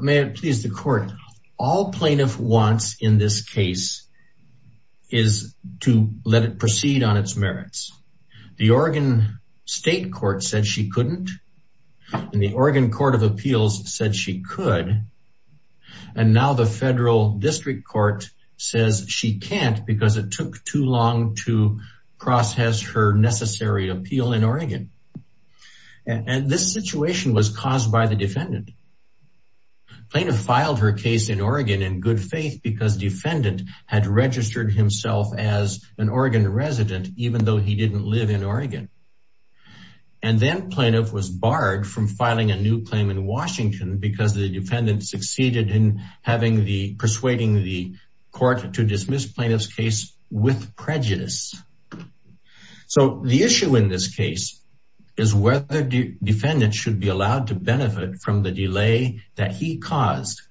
May it please the court. All plaintiff wants in this case is to let it proceed on its merits. The Oregon state court said she couldn't, and the Oregon court of appeals said she could, and now the federal district court says she can't because it took too long to process her necessary appeal in Oregon. And this situation was caused by the defendant. Plaintiff filed her case in Oregon in good faith because defendant had registered himself as an Oregon resident, even though he didn't live in Oregon. And then plaintiff was barred from filing a new claim in Washington because the defendant succeeded in having the, persuading the court to dismiss plaintiff's case with prejudice. So the issue in this case is whether the defendant should be allowed to benefit from the delay that he caused.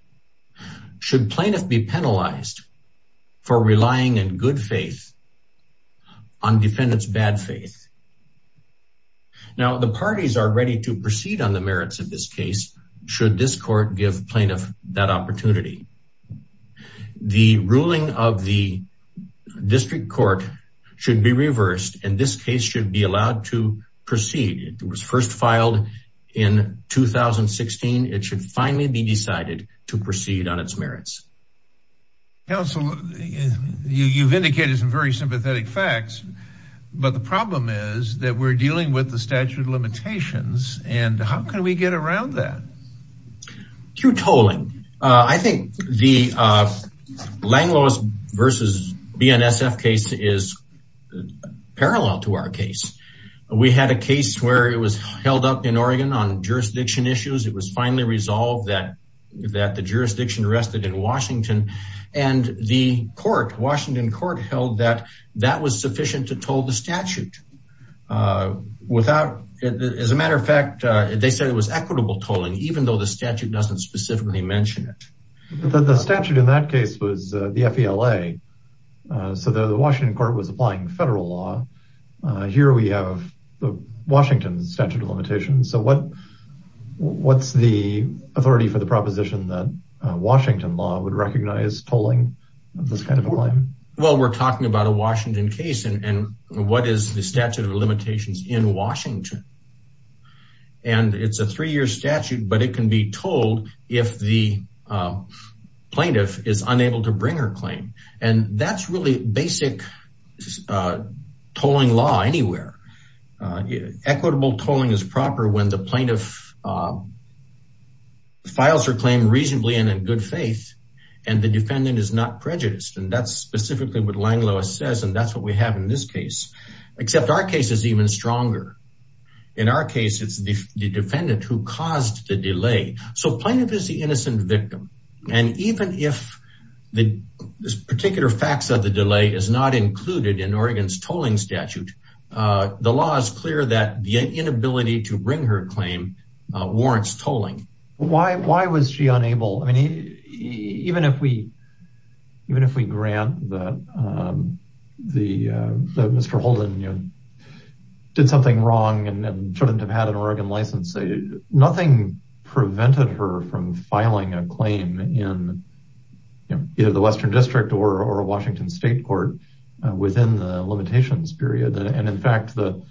Should plaintiff be penalized for relying in good faith on defendant's bad faith? Now the parties are ready to proceed on the merits of this case should this court give plaintiff that opportunity. The ruling of the district court should be reversed and this case should be allowed to proceed. It was first filed in 2016. It should finally be decided to proceed on its merits. Counsel, you've indicated some very sympathetic facts, but the problem is that we're dealing with the statute of limitations and how can we get around that? Through tolling. I think the Langlois versus BNSF case is parallel to our case. We had a case where it was held up in Oregon on jurisdiction issues. It was finally resolved that, that the jurisdiction rested in Washington. And the court, Washington court held that that was sufficient to toll the statute. Without, as a matter of fact, they said it was equitable tolling, even though the statute doesn't specifically mention it. But the statute in that case was the FELA. So the Washington court was applying federal law. Here we have the Washington statute of limitations. So what, what's the authority for the proposition that Washington law would recognize tolling of this kind of a claim? Well, we're talking about a Washington case and what is the statute of limitations in Washington? And it's a three-year statute, but it can be tolled if the plaintiff is unable to bring her claim. And that's really basic tolling law anywhere. Equitable tolling is proper when the plaintiff files her claim reasonably and in good faith, and the defendant is not prejudiced. And that's specifically what Langlois says. And that's what we have in this case, except our case is even stronger. In our case, it's the defendant who caused the delay. So plaintiff is the innocent victim. And even if the particular facts of the delay is not included in Oregon's tolling statute, the law is clear that the inability to bring her claim warrants tolling. Why, why was she unable? I mean, even if we, even if we grant that the Mr. Holden did something wrong and shouldn't have had an Oregon license, nothing prevented her from filing a claim in either the Western district or a Washington state court within the limitations period. And in fact, the,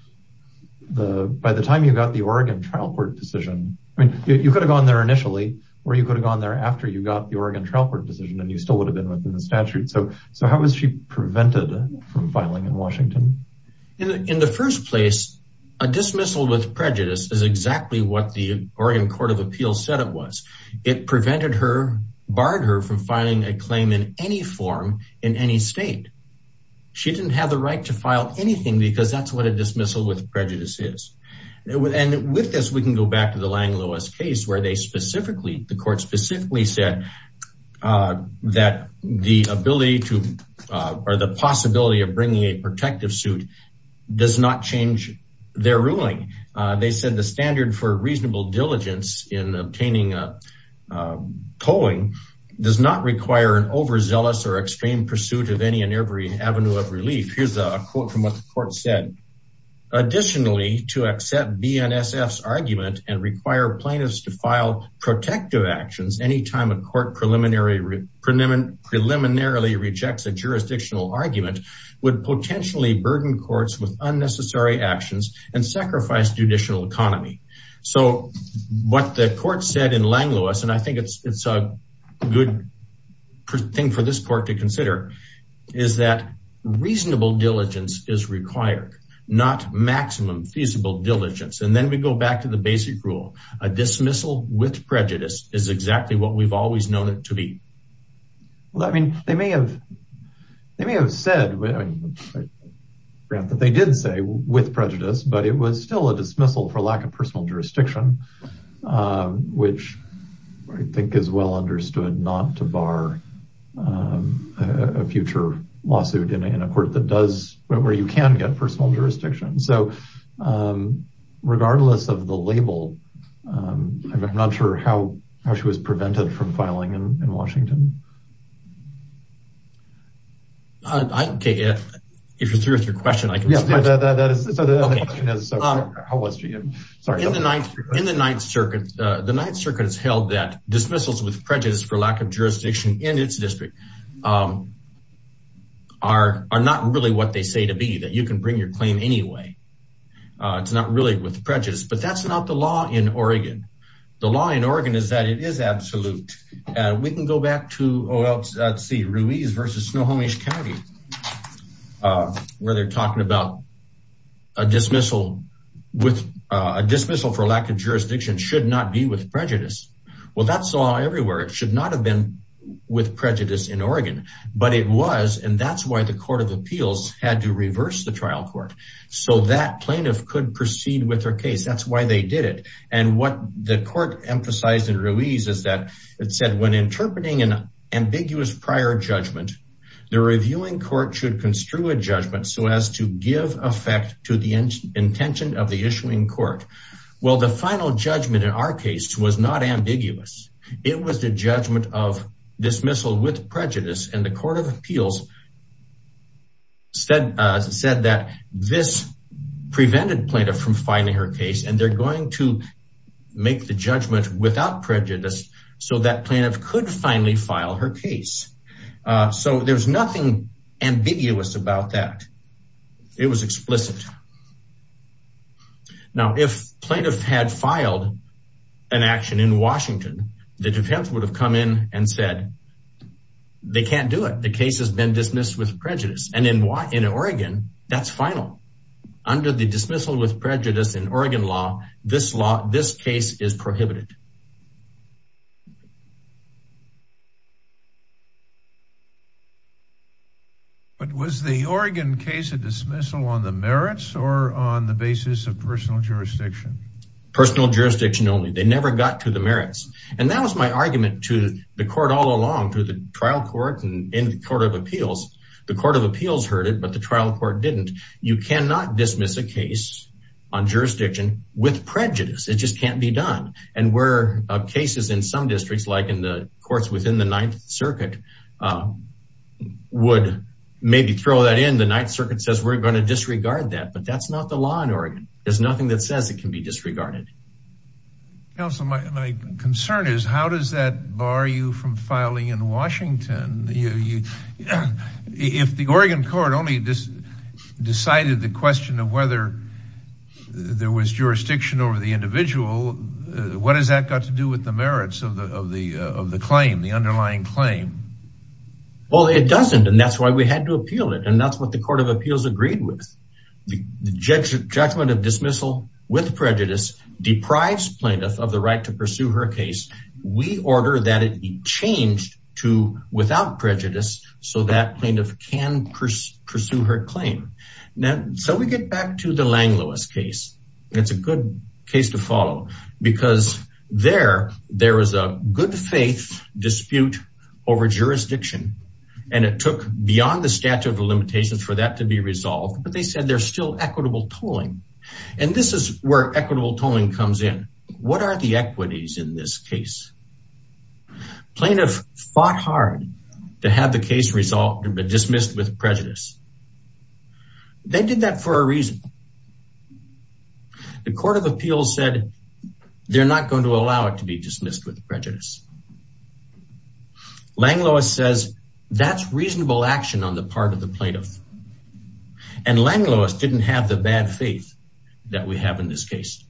the, by the time you got the Oregon trial court decision, I mean, you could have gone there initially, or you could have gone there after you got the Oregon trial court decision and you still would have been within the statute. So, so how was she prevented from filing in Washington? In the first place, a dismissal with prejudice is exactly what the Oregon court of appeals said it was. It prevented her, barred her from filing a claim in any form in any state. She didn't have the right to file anything because that's what a dismissal with prejudice is. And with this, we can go back to the Lang-Lewis case where they specifically, the court specifically said that the ability to, or the possibility of bringing a protective suit does not change their ruling. They said the standard for reasonable diligence in obtaining a tolling does not require an overzealous or extreme pursuit of any and every avenue of relief. Here's a quote from what the court said. Additionally, to accept BNSF's argument and require plaintiffs to file protective actions anytime a court preliminarily rejects a jurisdictional argument would potentially burden courts with unnecessary actions and sacrifice judicial economy. So what the court said in Lang-Lewis, and I think it's, it's a good thing for this court to consider is that reasonable diligence is required, not maximum feasible diligence. And then we go back to the basic rule, a dismissal with prejudice is exactly what we've always known it to be. Well, I mean, they may have, they may have said that they did say with prejudice, but it was still a dismissal for lack of personal jurisdiction. Which I think is well understood not to bar a future lawsuit in a court that does, where you can get personal jurisdiction. So regardless of the label, I'm not sure how, how she was prevented from filing in Washington. I can take it. If you're through with your question. Yeah, that is how it was for you. Sorry. In the ninth, in the ninth circuit, the ninth circuit has held that dismissals with prejudice for lack of jurisdiction in its district are not really what they say to be that you can bring your claim anyway, it's not really with prejudice, but that's not the law in Oregon. The law in Oregon is that it is absolute. We can go back to, oh, let's see Ruiz versus Snohomish County, where they're talking about a dismissal with a dismissal for lack of jurisdiction should not be with prejudice. Well, that's all everywhere. It should not have been with prejudice in Oregon, but it was. And that's why the court of appeals had to reverse the trial court so that plaintiff could proceed with her case. That's why they did it. And what the court emphasized in Ruiz is that it said when interpreting an ambiguous prior judgment, the reviewing court should construe a effect to the intention of the issuing court. Well, the final judgment in our case was not ambiguous. It was the judgment of dismissal with prejudice and the court of appeals said that this prevented plaintiff from filing her case and they're going to make the judgment without prejudice so that plaintiff could finally file her case. So there's nothing ambiguous about that. It was explicit. Now, if plaintiff had filed an action in Washington, the defense would have come in and said, they can't do it. The case has been dismissed with prejudice. And in Oregon, that's final. Under the dismissal with prejudice in Oregon law, this case is prohibited. But was the Oregon case a dismissal on the merits or on the basis of personal jurisdiction? Personal jurisdiction only. They never got to the merits. And that was my argument to the court all along through the trial court and in the court of appeals. The court of appeals heard it, but the trial court didn't. You cannot dismiss a case on jurisdiction with prejudice. We're not going to do that. We're not going to do that. There were cases in some districts, like in the courts within the ninth circuit, would maybe throw that in. The ninth circuit says we're going to disregard that, but that's not the law in Oregon. There's nothing that says it can be disregarded. Counselor, my concern is how does that bar you from filing in Washington? If the Oregon court only decided the question of whether there was jurisdiction over the individual, what has that got to do with the merits of the claim, the underlying claim? Well, it doesn't. And that's why we had to appeal it. And that's what the court of appeals agreed with. The judgment of dismissal with prejudice deprives plaintiff of the right to pursue her case. We order that it be changed to without prejudice so that plaintiff can pursue her claim. Now, so we get back to the Lang Lewis case. It's a good case to follow because there is a good faith dispute over jurisdiction, and it took beyond the statute of limitations for that to be resolved, but they said there's still equitable tolling, and this is where equitable tolling comes in. What are the equities in this case? Plaintiff fought hard to have the case resolved, but dismissed with prejudice. They did that for a reason. The court of appeals said they're not going to allow it to be dismissed with prejudice. Lang Lewis says that's reasonable action on the part of the plaintiff. And Lang Lewis didn't have the bad faith that we have in this case.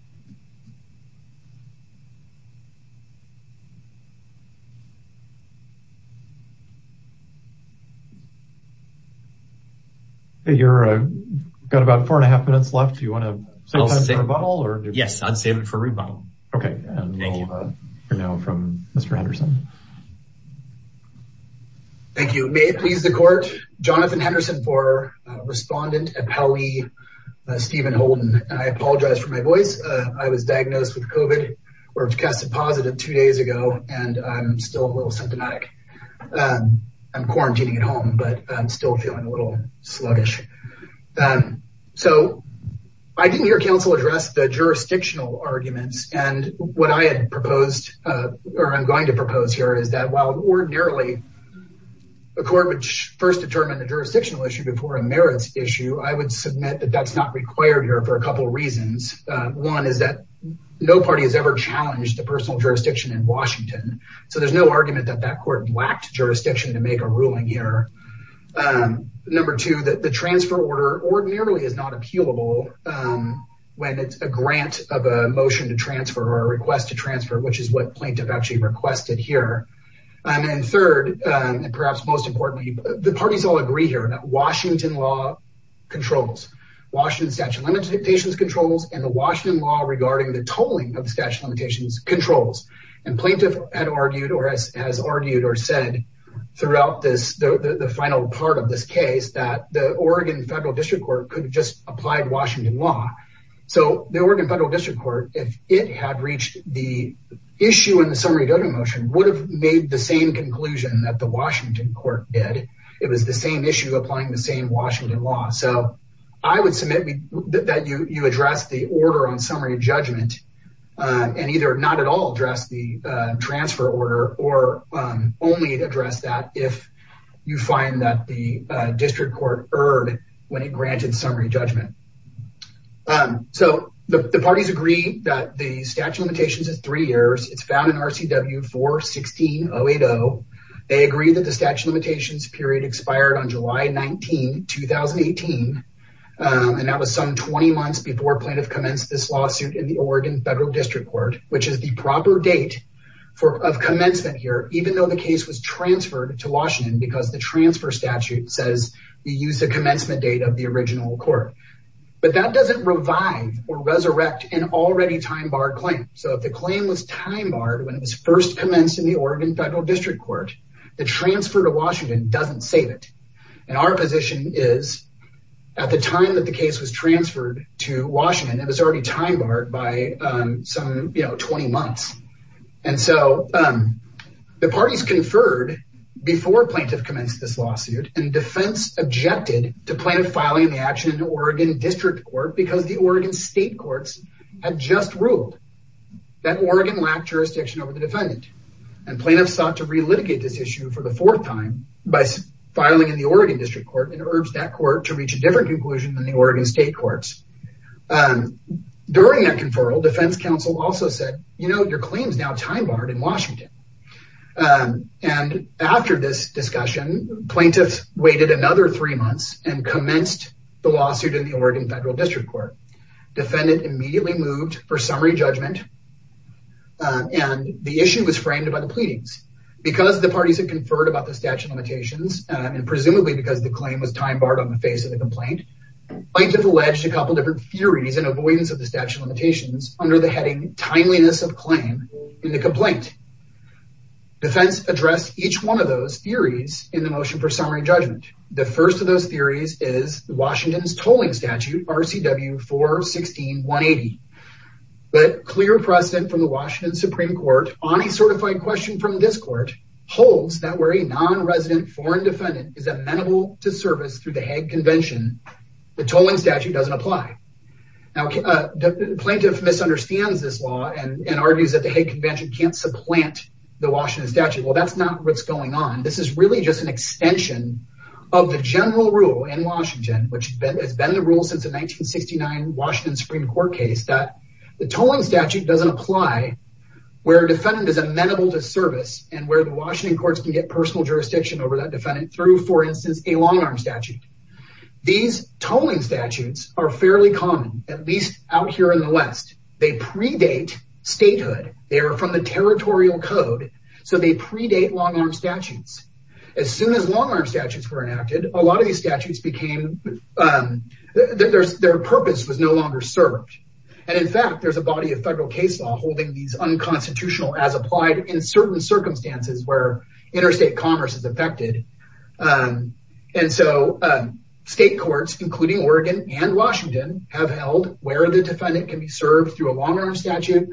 You've got about four and a half minutes left. Do you want to save it for a rebuttal? Yes, I'd save it for a rebuttal. Okay. And we'll hear now from Mr. Henderson. Thank you. May it please the court, Jonathan Henderson for respondent, appellee, Stephen Holden. I apologize for my voice. I was diagnosed with COVID, or tested positive two days ago, and I'm still a little symptomatic. I'm quarantining at home, but I'm still feeling a little sluggish. So, I didn't hear counsel address the jurisdictional arguments, and what I had proposed, or I'm going to propose here, is that while ordinarily a court would first determine the jurisdictional issue before a merits issue, I would submit that that's not required here for a couple of reasons. One is that no party has ever challenged the personal jurisdiction in Washington. So there's no argument that that court lacked jurisdiction to make a ruling here. Number two, that the transfer order ordinarily is not appealable when it's a grant of a motion to transfer or a request to transfer, which is what plaintiff actually requested here. And then third, and perhaps most importantly, the parties all agree here that Washington law controls, Washington statute of limitations controls, and the Washington law regarding the tolling of the statute of limitations controls. And plaintiff had argued or has argued or said throughout this, the final part of this case, that the Oregon Federal District Court could just apply Washington law, so the Oregon Federal District Court, if it had reached the issue in the summary voting motion, would have made the same conclusion that the Washington court did, it was the same issue applying the same Washington law. So, I would submit that you address the order on summary judgment, and either not at all address the transfer order, or only address that if you find that the district court erred when it granted summary judgment. So the parties agree that the statute of limitations is three years. It's found in RCW 4-16-080. They agree that the statute of limitations period expired on July 19, 2018. And that was some 20 months before plaintiff commenced this lawsuit in the proper date of commencement here, even though the case was transferred to Washington, because the transfer statute says you use the commencement date of the original court. But that doesn't revive or resurrect an already time barred claim. So if the claim was time barred when it was first commenced in the Oregon Federal District Court, the transfer to Washington doesn't save it. And our position is at the time that the case was transferred to Washington, it was 15 months, and so the parties conferred before plaintiff commenced this lawsuit, and defense objected to plaintiff filing the action in the Oregon District Court, because the Oregon State Courts had just ruled that Oregon lacked jurisdiction over the defendant. And plaintiffs sought to relitigate this issue for the fourth time by filing in the Oregon District Court, and urged that court to reach a different conclusion than the Oregon State Courts. During that conferral, defense counsel also said, you know, your claim's now time barred in Washington. And after this discussion, plaintiffs waited another three months and commenced the lawsuit in the Oregon Federal District Court. Defendant immediately moved for summary judgment, and the issue was framed by the pleadings. Because the parties had conferred about the statute of limitations, and presumably because the claim was time barred on the face of the complaint, plaintiff alleged a couple of different theories and avoidance of the statute of limitations under the heading timeliness of claim in the complaint. Defense addressed each one of those theories in the motion for summary judgment. The first of those theories is Washington's tolling statute, RCW 416-180. But clear precedent from the Washington Supreme Court on a certified question from this court holds that where a non-resident foreign defendant is at the Hague Convention, the tolling statute doesn't apply. Now, the plaintiff misunderstands this law and argues that the Hague Convention can't supplant the Washington statute. Well, that's not what's going on. This is really just an extension of the general rule in Washington, which has been the rule since the 1969 Washington Supreme Court case, that the tolling statute doesn't apply where a defendant is amenable to service and where the Washington courts can get personal jurisdiction over that defendant through, for instance, a long arm statute. These tolling statutes are fairly common, at least out here in the West. They predate statehood. They are from the territorial code, so they predate long arm statutes. As soon as long arm statutes were enacted, a lot of these statutes became, their purpose was no longer served. And in fact, there's a body of federal case law holding these unconstitutional as applied in certain circumstances where interstate commerce is affected. And so, state courts, including Oregon and Washington, have held where the defendant can be served through a long arm statute,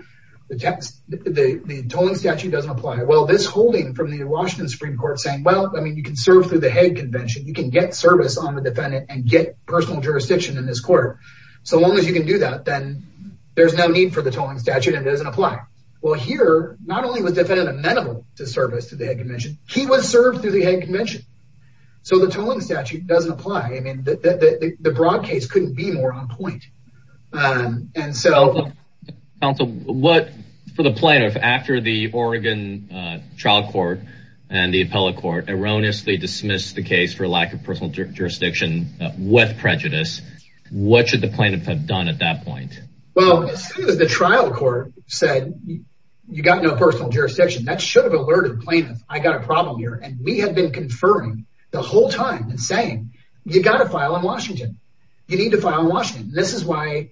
the tolling statute doesn't apply. Well, this holding from the Washington Supreme Court saying, well, I mean, you can serve through the Hague Convention. You can get service on the defendant and get personal jurisdiction in this court. So long as you can do that, then there's no need for the tolling statute and it doesn't apply. Well, here, not only was the defendant amenable to service through the Hague Convention, so the tolling statute doesn't apply. I mean, the broad case couldn't be more on point. And so- Counsel, what, for the plaintiff, after the Oregon trial court and the appellate court erroneously dismissed the case for lack of personal jurisdiction with prejudice, what should the plaintiff have done at that point? Well, as soon as the trial court said, you got no personal jurisdiction, that should have alerted plaintiff, I got a problem here. And we had been conferring the whole time and saying, you got to file in Washington, you need to file in Washington. And this is why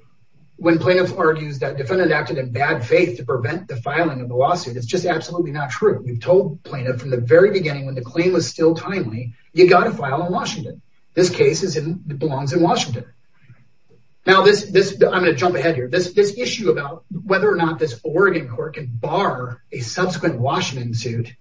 when plaintiff argues that defendant acted in bad faith to prevent the filing of the lawsuit, it's just absolutely not true. We've told plaintiff from the very beginning, when the claim was still timely, you got to file in Washington. This case belongs in Washington. Now this, I'm going to jump ahead here. This issue about whether or not this Oregon court can bar a subsequent Washington suit,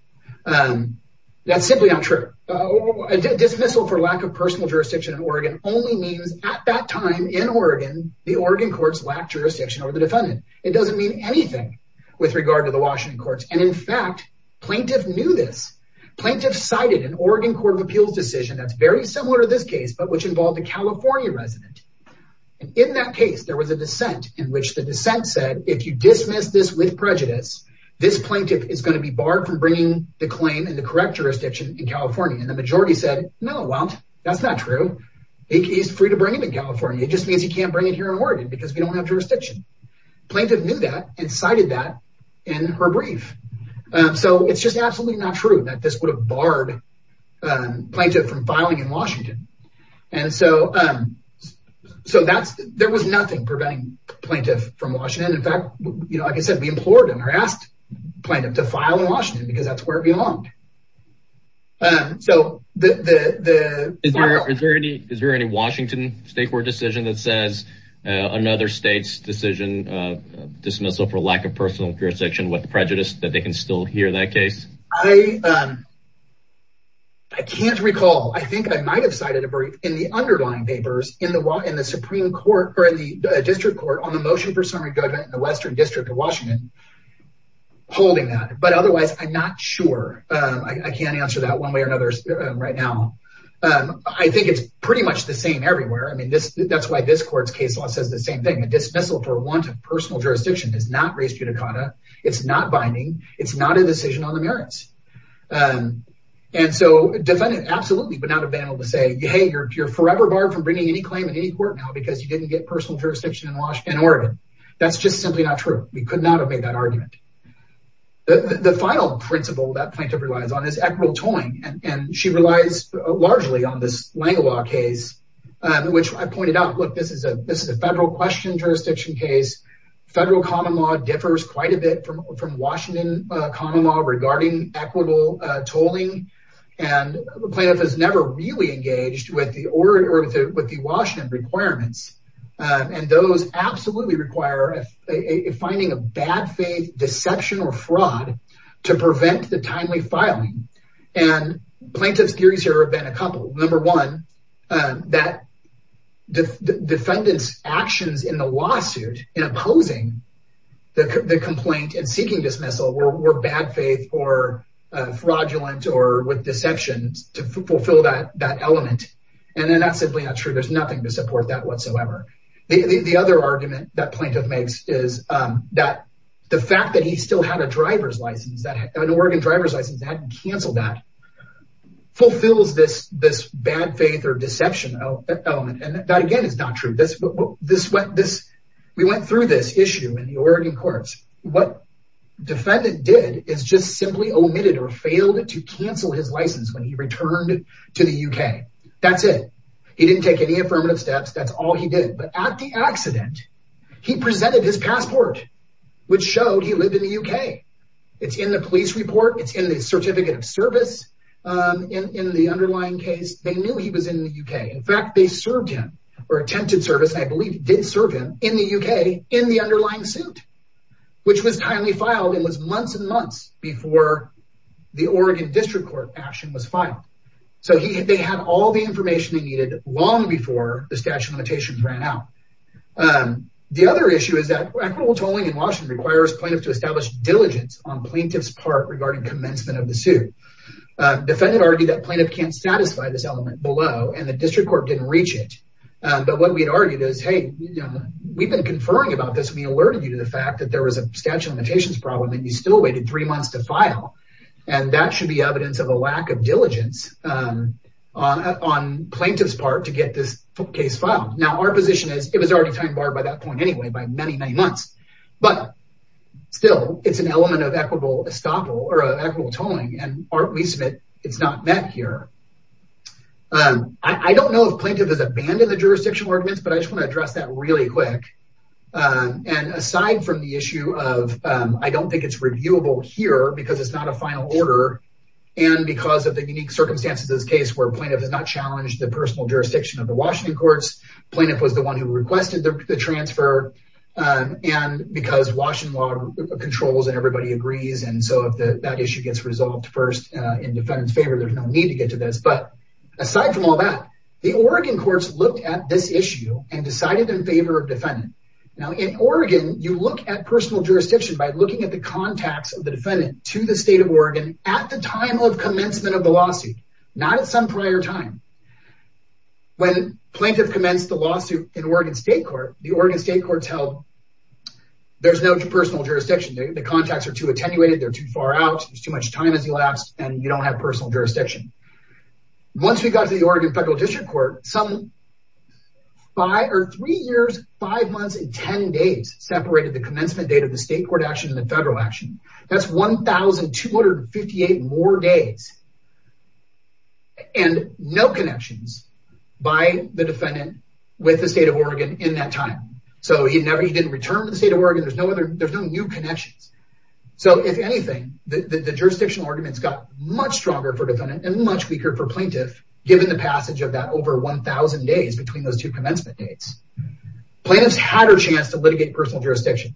that's simply not true. A dismissal for lack of personal jurisdiction in Oregon only means at that time in Oregon, the Oregon courts lacked jurisdiction over the defendant. It doesn't mean anything with regard to the Washington courts. And in fact, plaintiff knew this. Plaintiff cited an Oregon court of appeals decision that's very similar to this case, but which involved a California resident. And in that case, there was a dissent in which the dissent said, if you be barred from bringing the claim in the correct jurisdiction in California, and the majority said, no, that's not true. He's free to bring him in California. It just means he can't bring it here in Oregon because we don't have jurisdiction. Plaintiff knew that and cited that in her brief. So it's just absolutely not true that this would have barred plaintiff from filing in Washington. And so there was nothing preventing plaintiff from Washington. In fact, you know, like I said, we implored him or asked plaintiff to file in Washington because that's where it belonged. So the, the, is there any, is there any Washington state court decision that says another state's decision of dismissal for lack of personal jurisdiction with prejudice that they can still hear that case? I, I can't recall. I think I might've cited a brief in the underlying papers in the, in the Western district of Washington holding that, but otherwise I'm not sure. I can't answer that one way or another right now. I think it's pretty much the same everywhere. I mean, this, that's why this court's case law says the same thing. A dismissal for want of personal jurisdiction is not res judicata. It's not binding. It's not a decision on the merits. And so defendant, absolutely, but not available to say, Hey, you're, you're forever barred from bringing any claim in any court now because you didn't get personal jurisdiction in Washington, Oregon. That's just simply not true. We could not have made that argument. The final principle that plaintiff relies on is equitable tolling. And she relies largely on this Langelaw case, which I pointed out, look, this is a, this is a federal question jurisdiction case, federal common law differs quite a bit from, from Washington common law regarding equitable tolling and plaintiff has never really engaged with the order or with the Washington requirements. And those absolutely require finding a bad faith deception or fraud to prevent the timely filing. And plaintiff's theories here have been a couple. Number one, that defendant's actions in the lawsuit in opposing the complaint and seeking dismissal were bad faith or fraudulent or with deceptions to fulfill that, that element. And then that's simply not true. There's nothing to support that whatsoever. The other argument that plaintiff makes is that the fact that he still had a driver's license, that an Oregon driver's license hadn't canceled that, fulfills this, this bad faith or deception element. And that again is not true. This, this went, this, we went through this issue in the Oregon courts. What defendant did is just simply omitted or failed to cancel his license when he returned to the UK. That's it. He didn't take any affirmative steps. That's all he did. But at the accident, he presented his passport, which showed he lived in the UK. It's in the police report. It's in the certificate of service. Um, in, in the underlying case, they knew he was in the UK. In fact, they served him or attempted service. I believe did serve him in the UK, in the underlying suit, which was timely filed and was months and months before the Oregon district court action was filed. So he, they had all the information they needed long before the statute of limitations ran out. Um, the other issue is that equitable tolling in Washington requires plaintiffs to establish diligence on plaintiff's part regarding commencement of the suit. Uh, defendant argued that plaintiff can't satisfy this element below and the district court didn't reach it. Um, but what we had argued is, Hey, we've been conferring about this. We alerted you to the fact that there was a statute of limitations problem and you still waited three months to file. And that should be evidence of a lack of diligence, um, on, on plaintiff's part to get this case filed. Now our position is it was already time barred by that point anyway, by many, many months. But still it's an element of equitable estoppel or equitable tolling. And aren't we submit it's not met here. Um, I don't know if plaintiff has abandoned the jurisdictional arguments, but I just want to address that really quick. Um, and aside from the issue of, um, I don't think it's reviewable here because it's not a final order and because of the unique circumstances of this case where plaintiff has not challenged the personal jurisdiction of the Washington courts, plaintiff was the one who requested the transfer. Um, and because Washington law controls and everybody agrees. And so if the, that issue gets resolved first, uh, in defendant's favor, there's no need to get to this. But aside from all that, the Oregon courts looked at this issue and decided in favor of defendant. Now in Oregon, you look at personal jurisdiction by looking at the contacts of the defendant to the state of Oregon at the time of commencement of the lawsuit, not at some prior time when plaintiff commenced the lawsuit in Oregon state court, the Oregon state court held. There's no personal jurisdiction. The contacts are too attenuated. They're too far out. There's too much time as he lapsed and you don't have personal jurisdiction. Once we got to the Oregon federal district court, some five or three years, five months and 10 days separated the commencement date of the state court action and the federal action. That's 1,258 more days and no connections by the defendant with the state of Oregon in that time. So he never, he didn't return to the state of Oregon. There's no other, there's no new connections. So if anything, the jurisdictional arguments got much stronger for defendant and much weaker for plaintiff, given the passage of that over 1000 days between those two commencement dates, plaintiff's had her chance to litigate personal jurisdiction.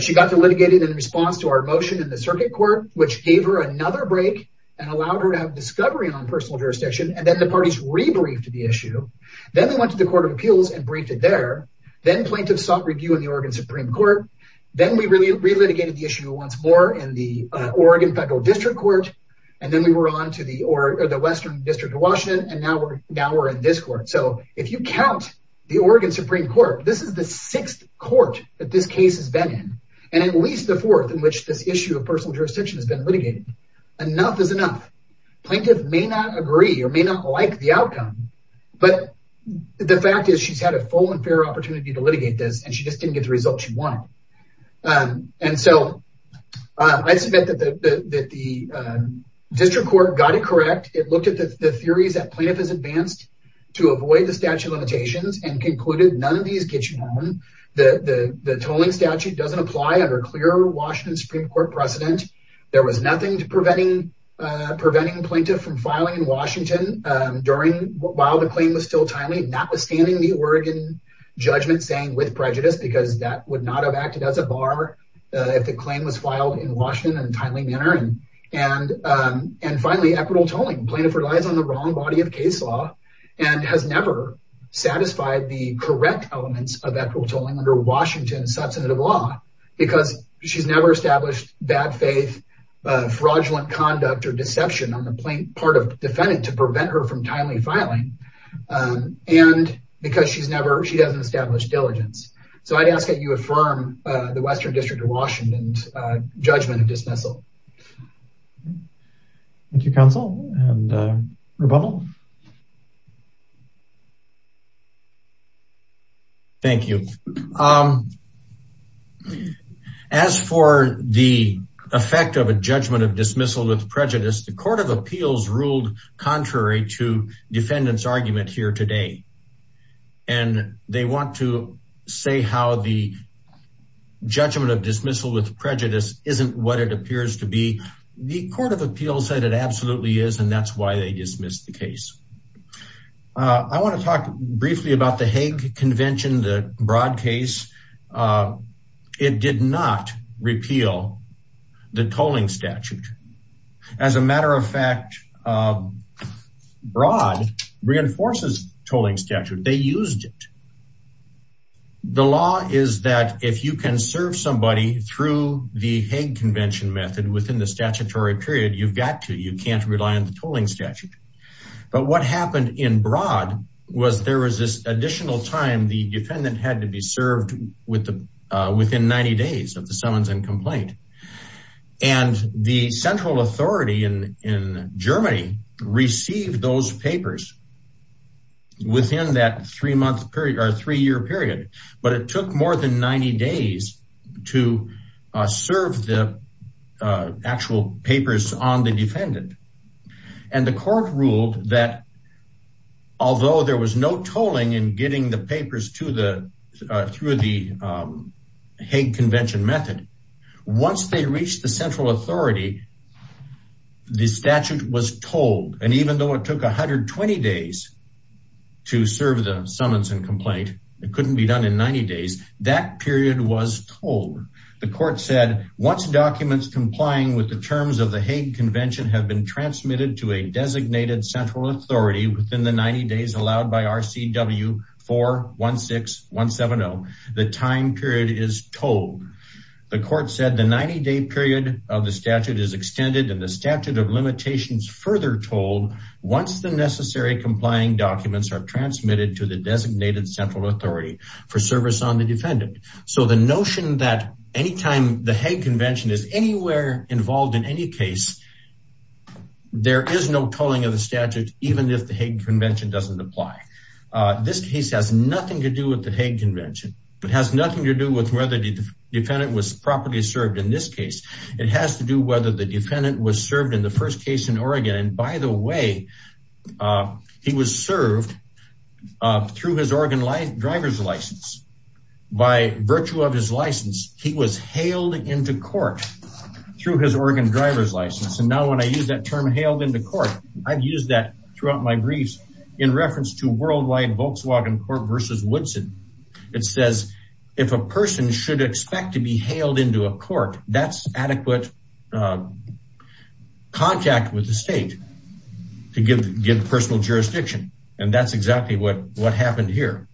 She got to litigated in response to our motion in the circuit court, which gave her another break and allowed her to have discovery on personal jurisdiction, and then the parties re-briefed the issue. Then they went to the court of appeals and briefed it there. Then plaintiff sought review in the Oregon Supreme court. Then we really re-litigated the issue once more in the Oregon federal district court, and then we were on to the, or the Western district of Washington. And now we're, now we're in this court. So if you count the Oregon Supreme court, this is the sixth court that this case has been in, and at least the fourth in which this issue of personal jurisdiction has been litigated, enough is enough plaintiff may not agree or may not like the outcome, but the fact is she's had a full and fair opportunity to litigate this, and she just didn't get the results she wanted. And so I suspect that the district court got it correct. It looked at the theories that plaintiff has advanced to avoid the statute limitations and concluded, none of these get you home. The tolling statute doesn't apply under clear Washington Supreme court precedent. There was nothing to preventing, preventing plaintiff from filing in Washington during while the claim was still timely, notwithstanding the Oregon judgment saying with prejudice, because that would not have acted as a bar if the claim was filed in Washington in a timely manner and, and, and finally equitable tolling plaintiff relies on the wrong body of case law and has never satisfied the correct elements of equitable tolling under Washington substantive law because she's never established bad faith, fraudulent conduct or deception on the plain part of defendant to prevent her from timely filing and because she's never, she hasn't established diligence. So I'd ask that you affirm the Western district of Washington's judgment of dismissal. Thank you, counsel and rebuttal. Thank you. As for the effect of a judgment of dismissal with prejudice, the court of appeals ruled contrary to defendant's argument here today. And they want to say how the judgment of dismissal with prejudice isn't what it appears to be. The court of appeals said it absolutely is. And that's why they dismissed the case. I want to talk briefly about the Hague convention, the Broad case. It did not repeal the tolling statute. As a matter of fact, Broad reinforces tolling statute. They used it. The law is that if you can serve somebody through the Hague convention method within the statutory period, you've got to, you can't rely on the tolling statute. But what happened in Broad was there was this additional time the defendant had to be served within 90 days of the summons and complaint. And the central authority in Germany received those papers within that three month period or three year period. But it took more than 90 days to serve the actual papers on the defendant. And the court ruled that although there was no tolling in getting the papers through the Hague convention method, once they reached the central authority, the statute was tolled. And even though it took 120 days to serve the summons and complaint, it couldn't be done in 90 days, that period was tolled. The court said once documents complying with the terms of the Hague convention have been transmitted to a designated central authority within the 90 days allowed by RCW 416170, the time period is tolled. The court said the 90 day period of the statute is extended and the statute of limitations further tolled once the necessary complying documents are transmitted to the designated central authority for service on the defendant. So the notion that anytime the Hague convention is anywhere involved in any case, there is no tolling of the statute, even if the Hague convention doesn't apply. This case has nothing to do with the Hague convention, but it has nothing to do with whether the defendant was properly served in this case. It has to do whether the defendant was served in the first case in Oregon. And by the way, he was served through his Oregon driver's license. By virtue of his license, he was hailed into court through his Oregon driver's license, and now when I use that term hailed into court, I've used that throughout my briefs in reference to worldwide Volkswagen court versus Woodson, it says, if a person should expect to be hailed into a court, that's adequate contact with the state to give personal jurisdiction. And that's exactly what happened here.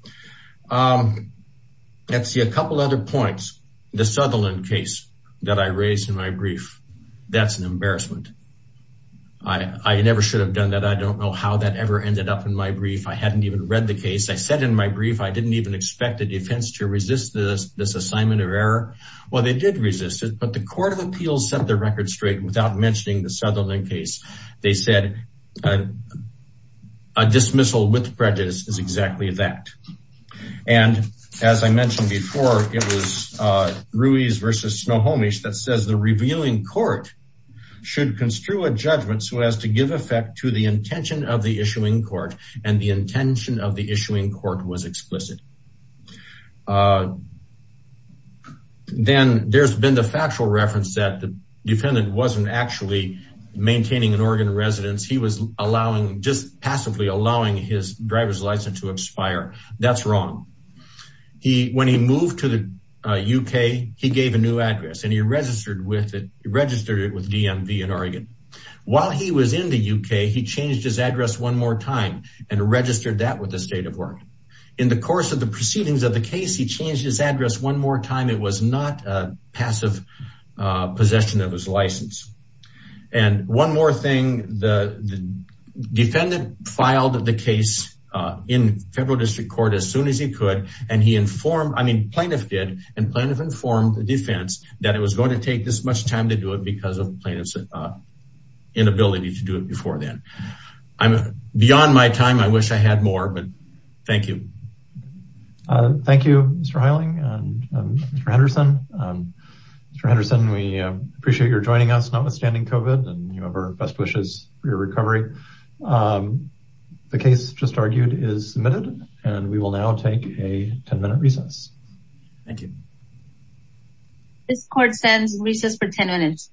Let's see a couple other points. The Sutherland case that I raised in my brief, that's an embarrassment. I never should have done that. I don't know how that ever ended up in my brief. I hadn't even read the case. I said in my brief, I didn't even expect the defense to resist this assignment of error. Well, they did resist it, but the court of appeals set the record straight without mentioning the Sutherland case. They said a dismissal with prejudice is exactly that. And as I mentioned before, it was Ruiz versus Snohomish that says the revealing court should construe a judgment so as to give effect to the intention of the issuing court and the intention of the issuing court was explicit. Then there's been the factual reference that the defendant wasn't actually maintaining an Oregon residence. He was allowing, just passively allowing his driver's license to that's wrong. He, when he moved to the UK, he gave a new address and he registered with it, registered it with DMV in Oregon. While he was in the UK, he changed his address one more time and registered that with the state of Oregon. In the course of the proceedings of the case, he changed his address one more time, it was not a passive possession of his license and one more thing. The defendant filed the case in federal district court as soon as he could. And he informed, I mean, plaintiff did and plaintiff informed the defense that it was going to take this much time to do it because of plaintiff's inability to do it before then. I'm beyond my time. I wish I had more, but thank you. Thank you, Mr. Hiling and Mr. Henderson. Mr. Henderson, we appreciate your joining us notwithstanding COVID and you have our best wishes for your recovery. The case just argued is submitted and we will now take a 10 minute recess. Thank you. This court sends recess for 10 minutes.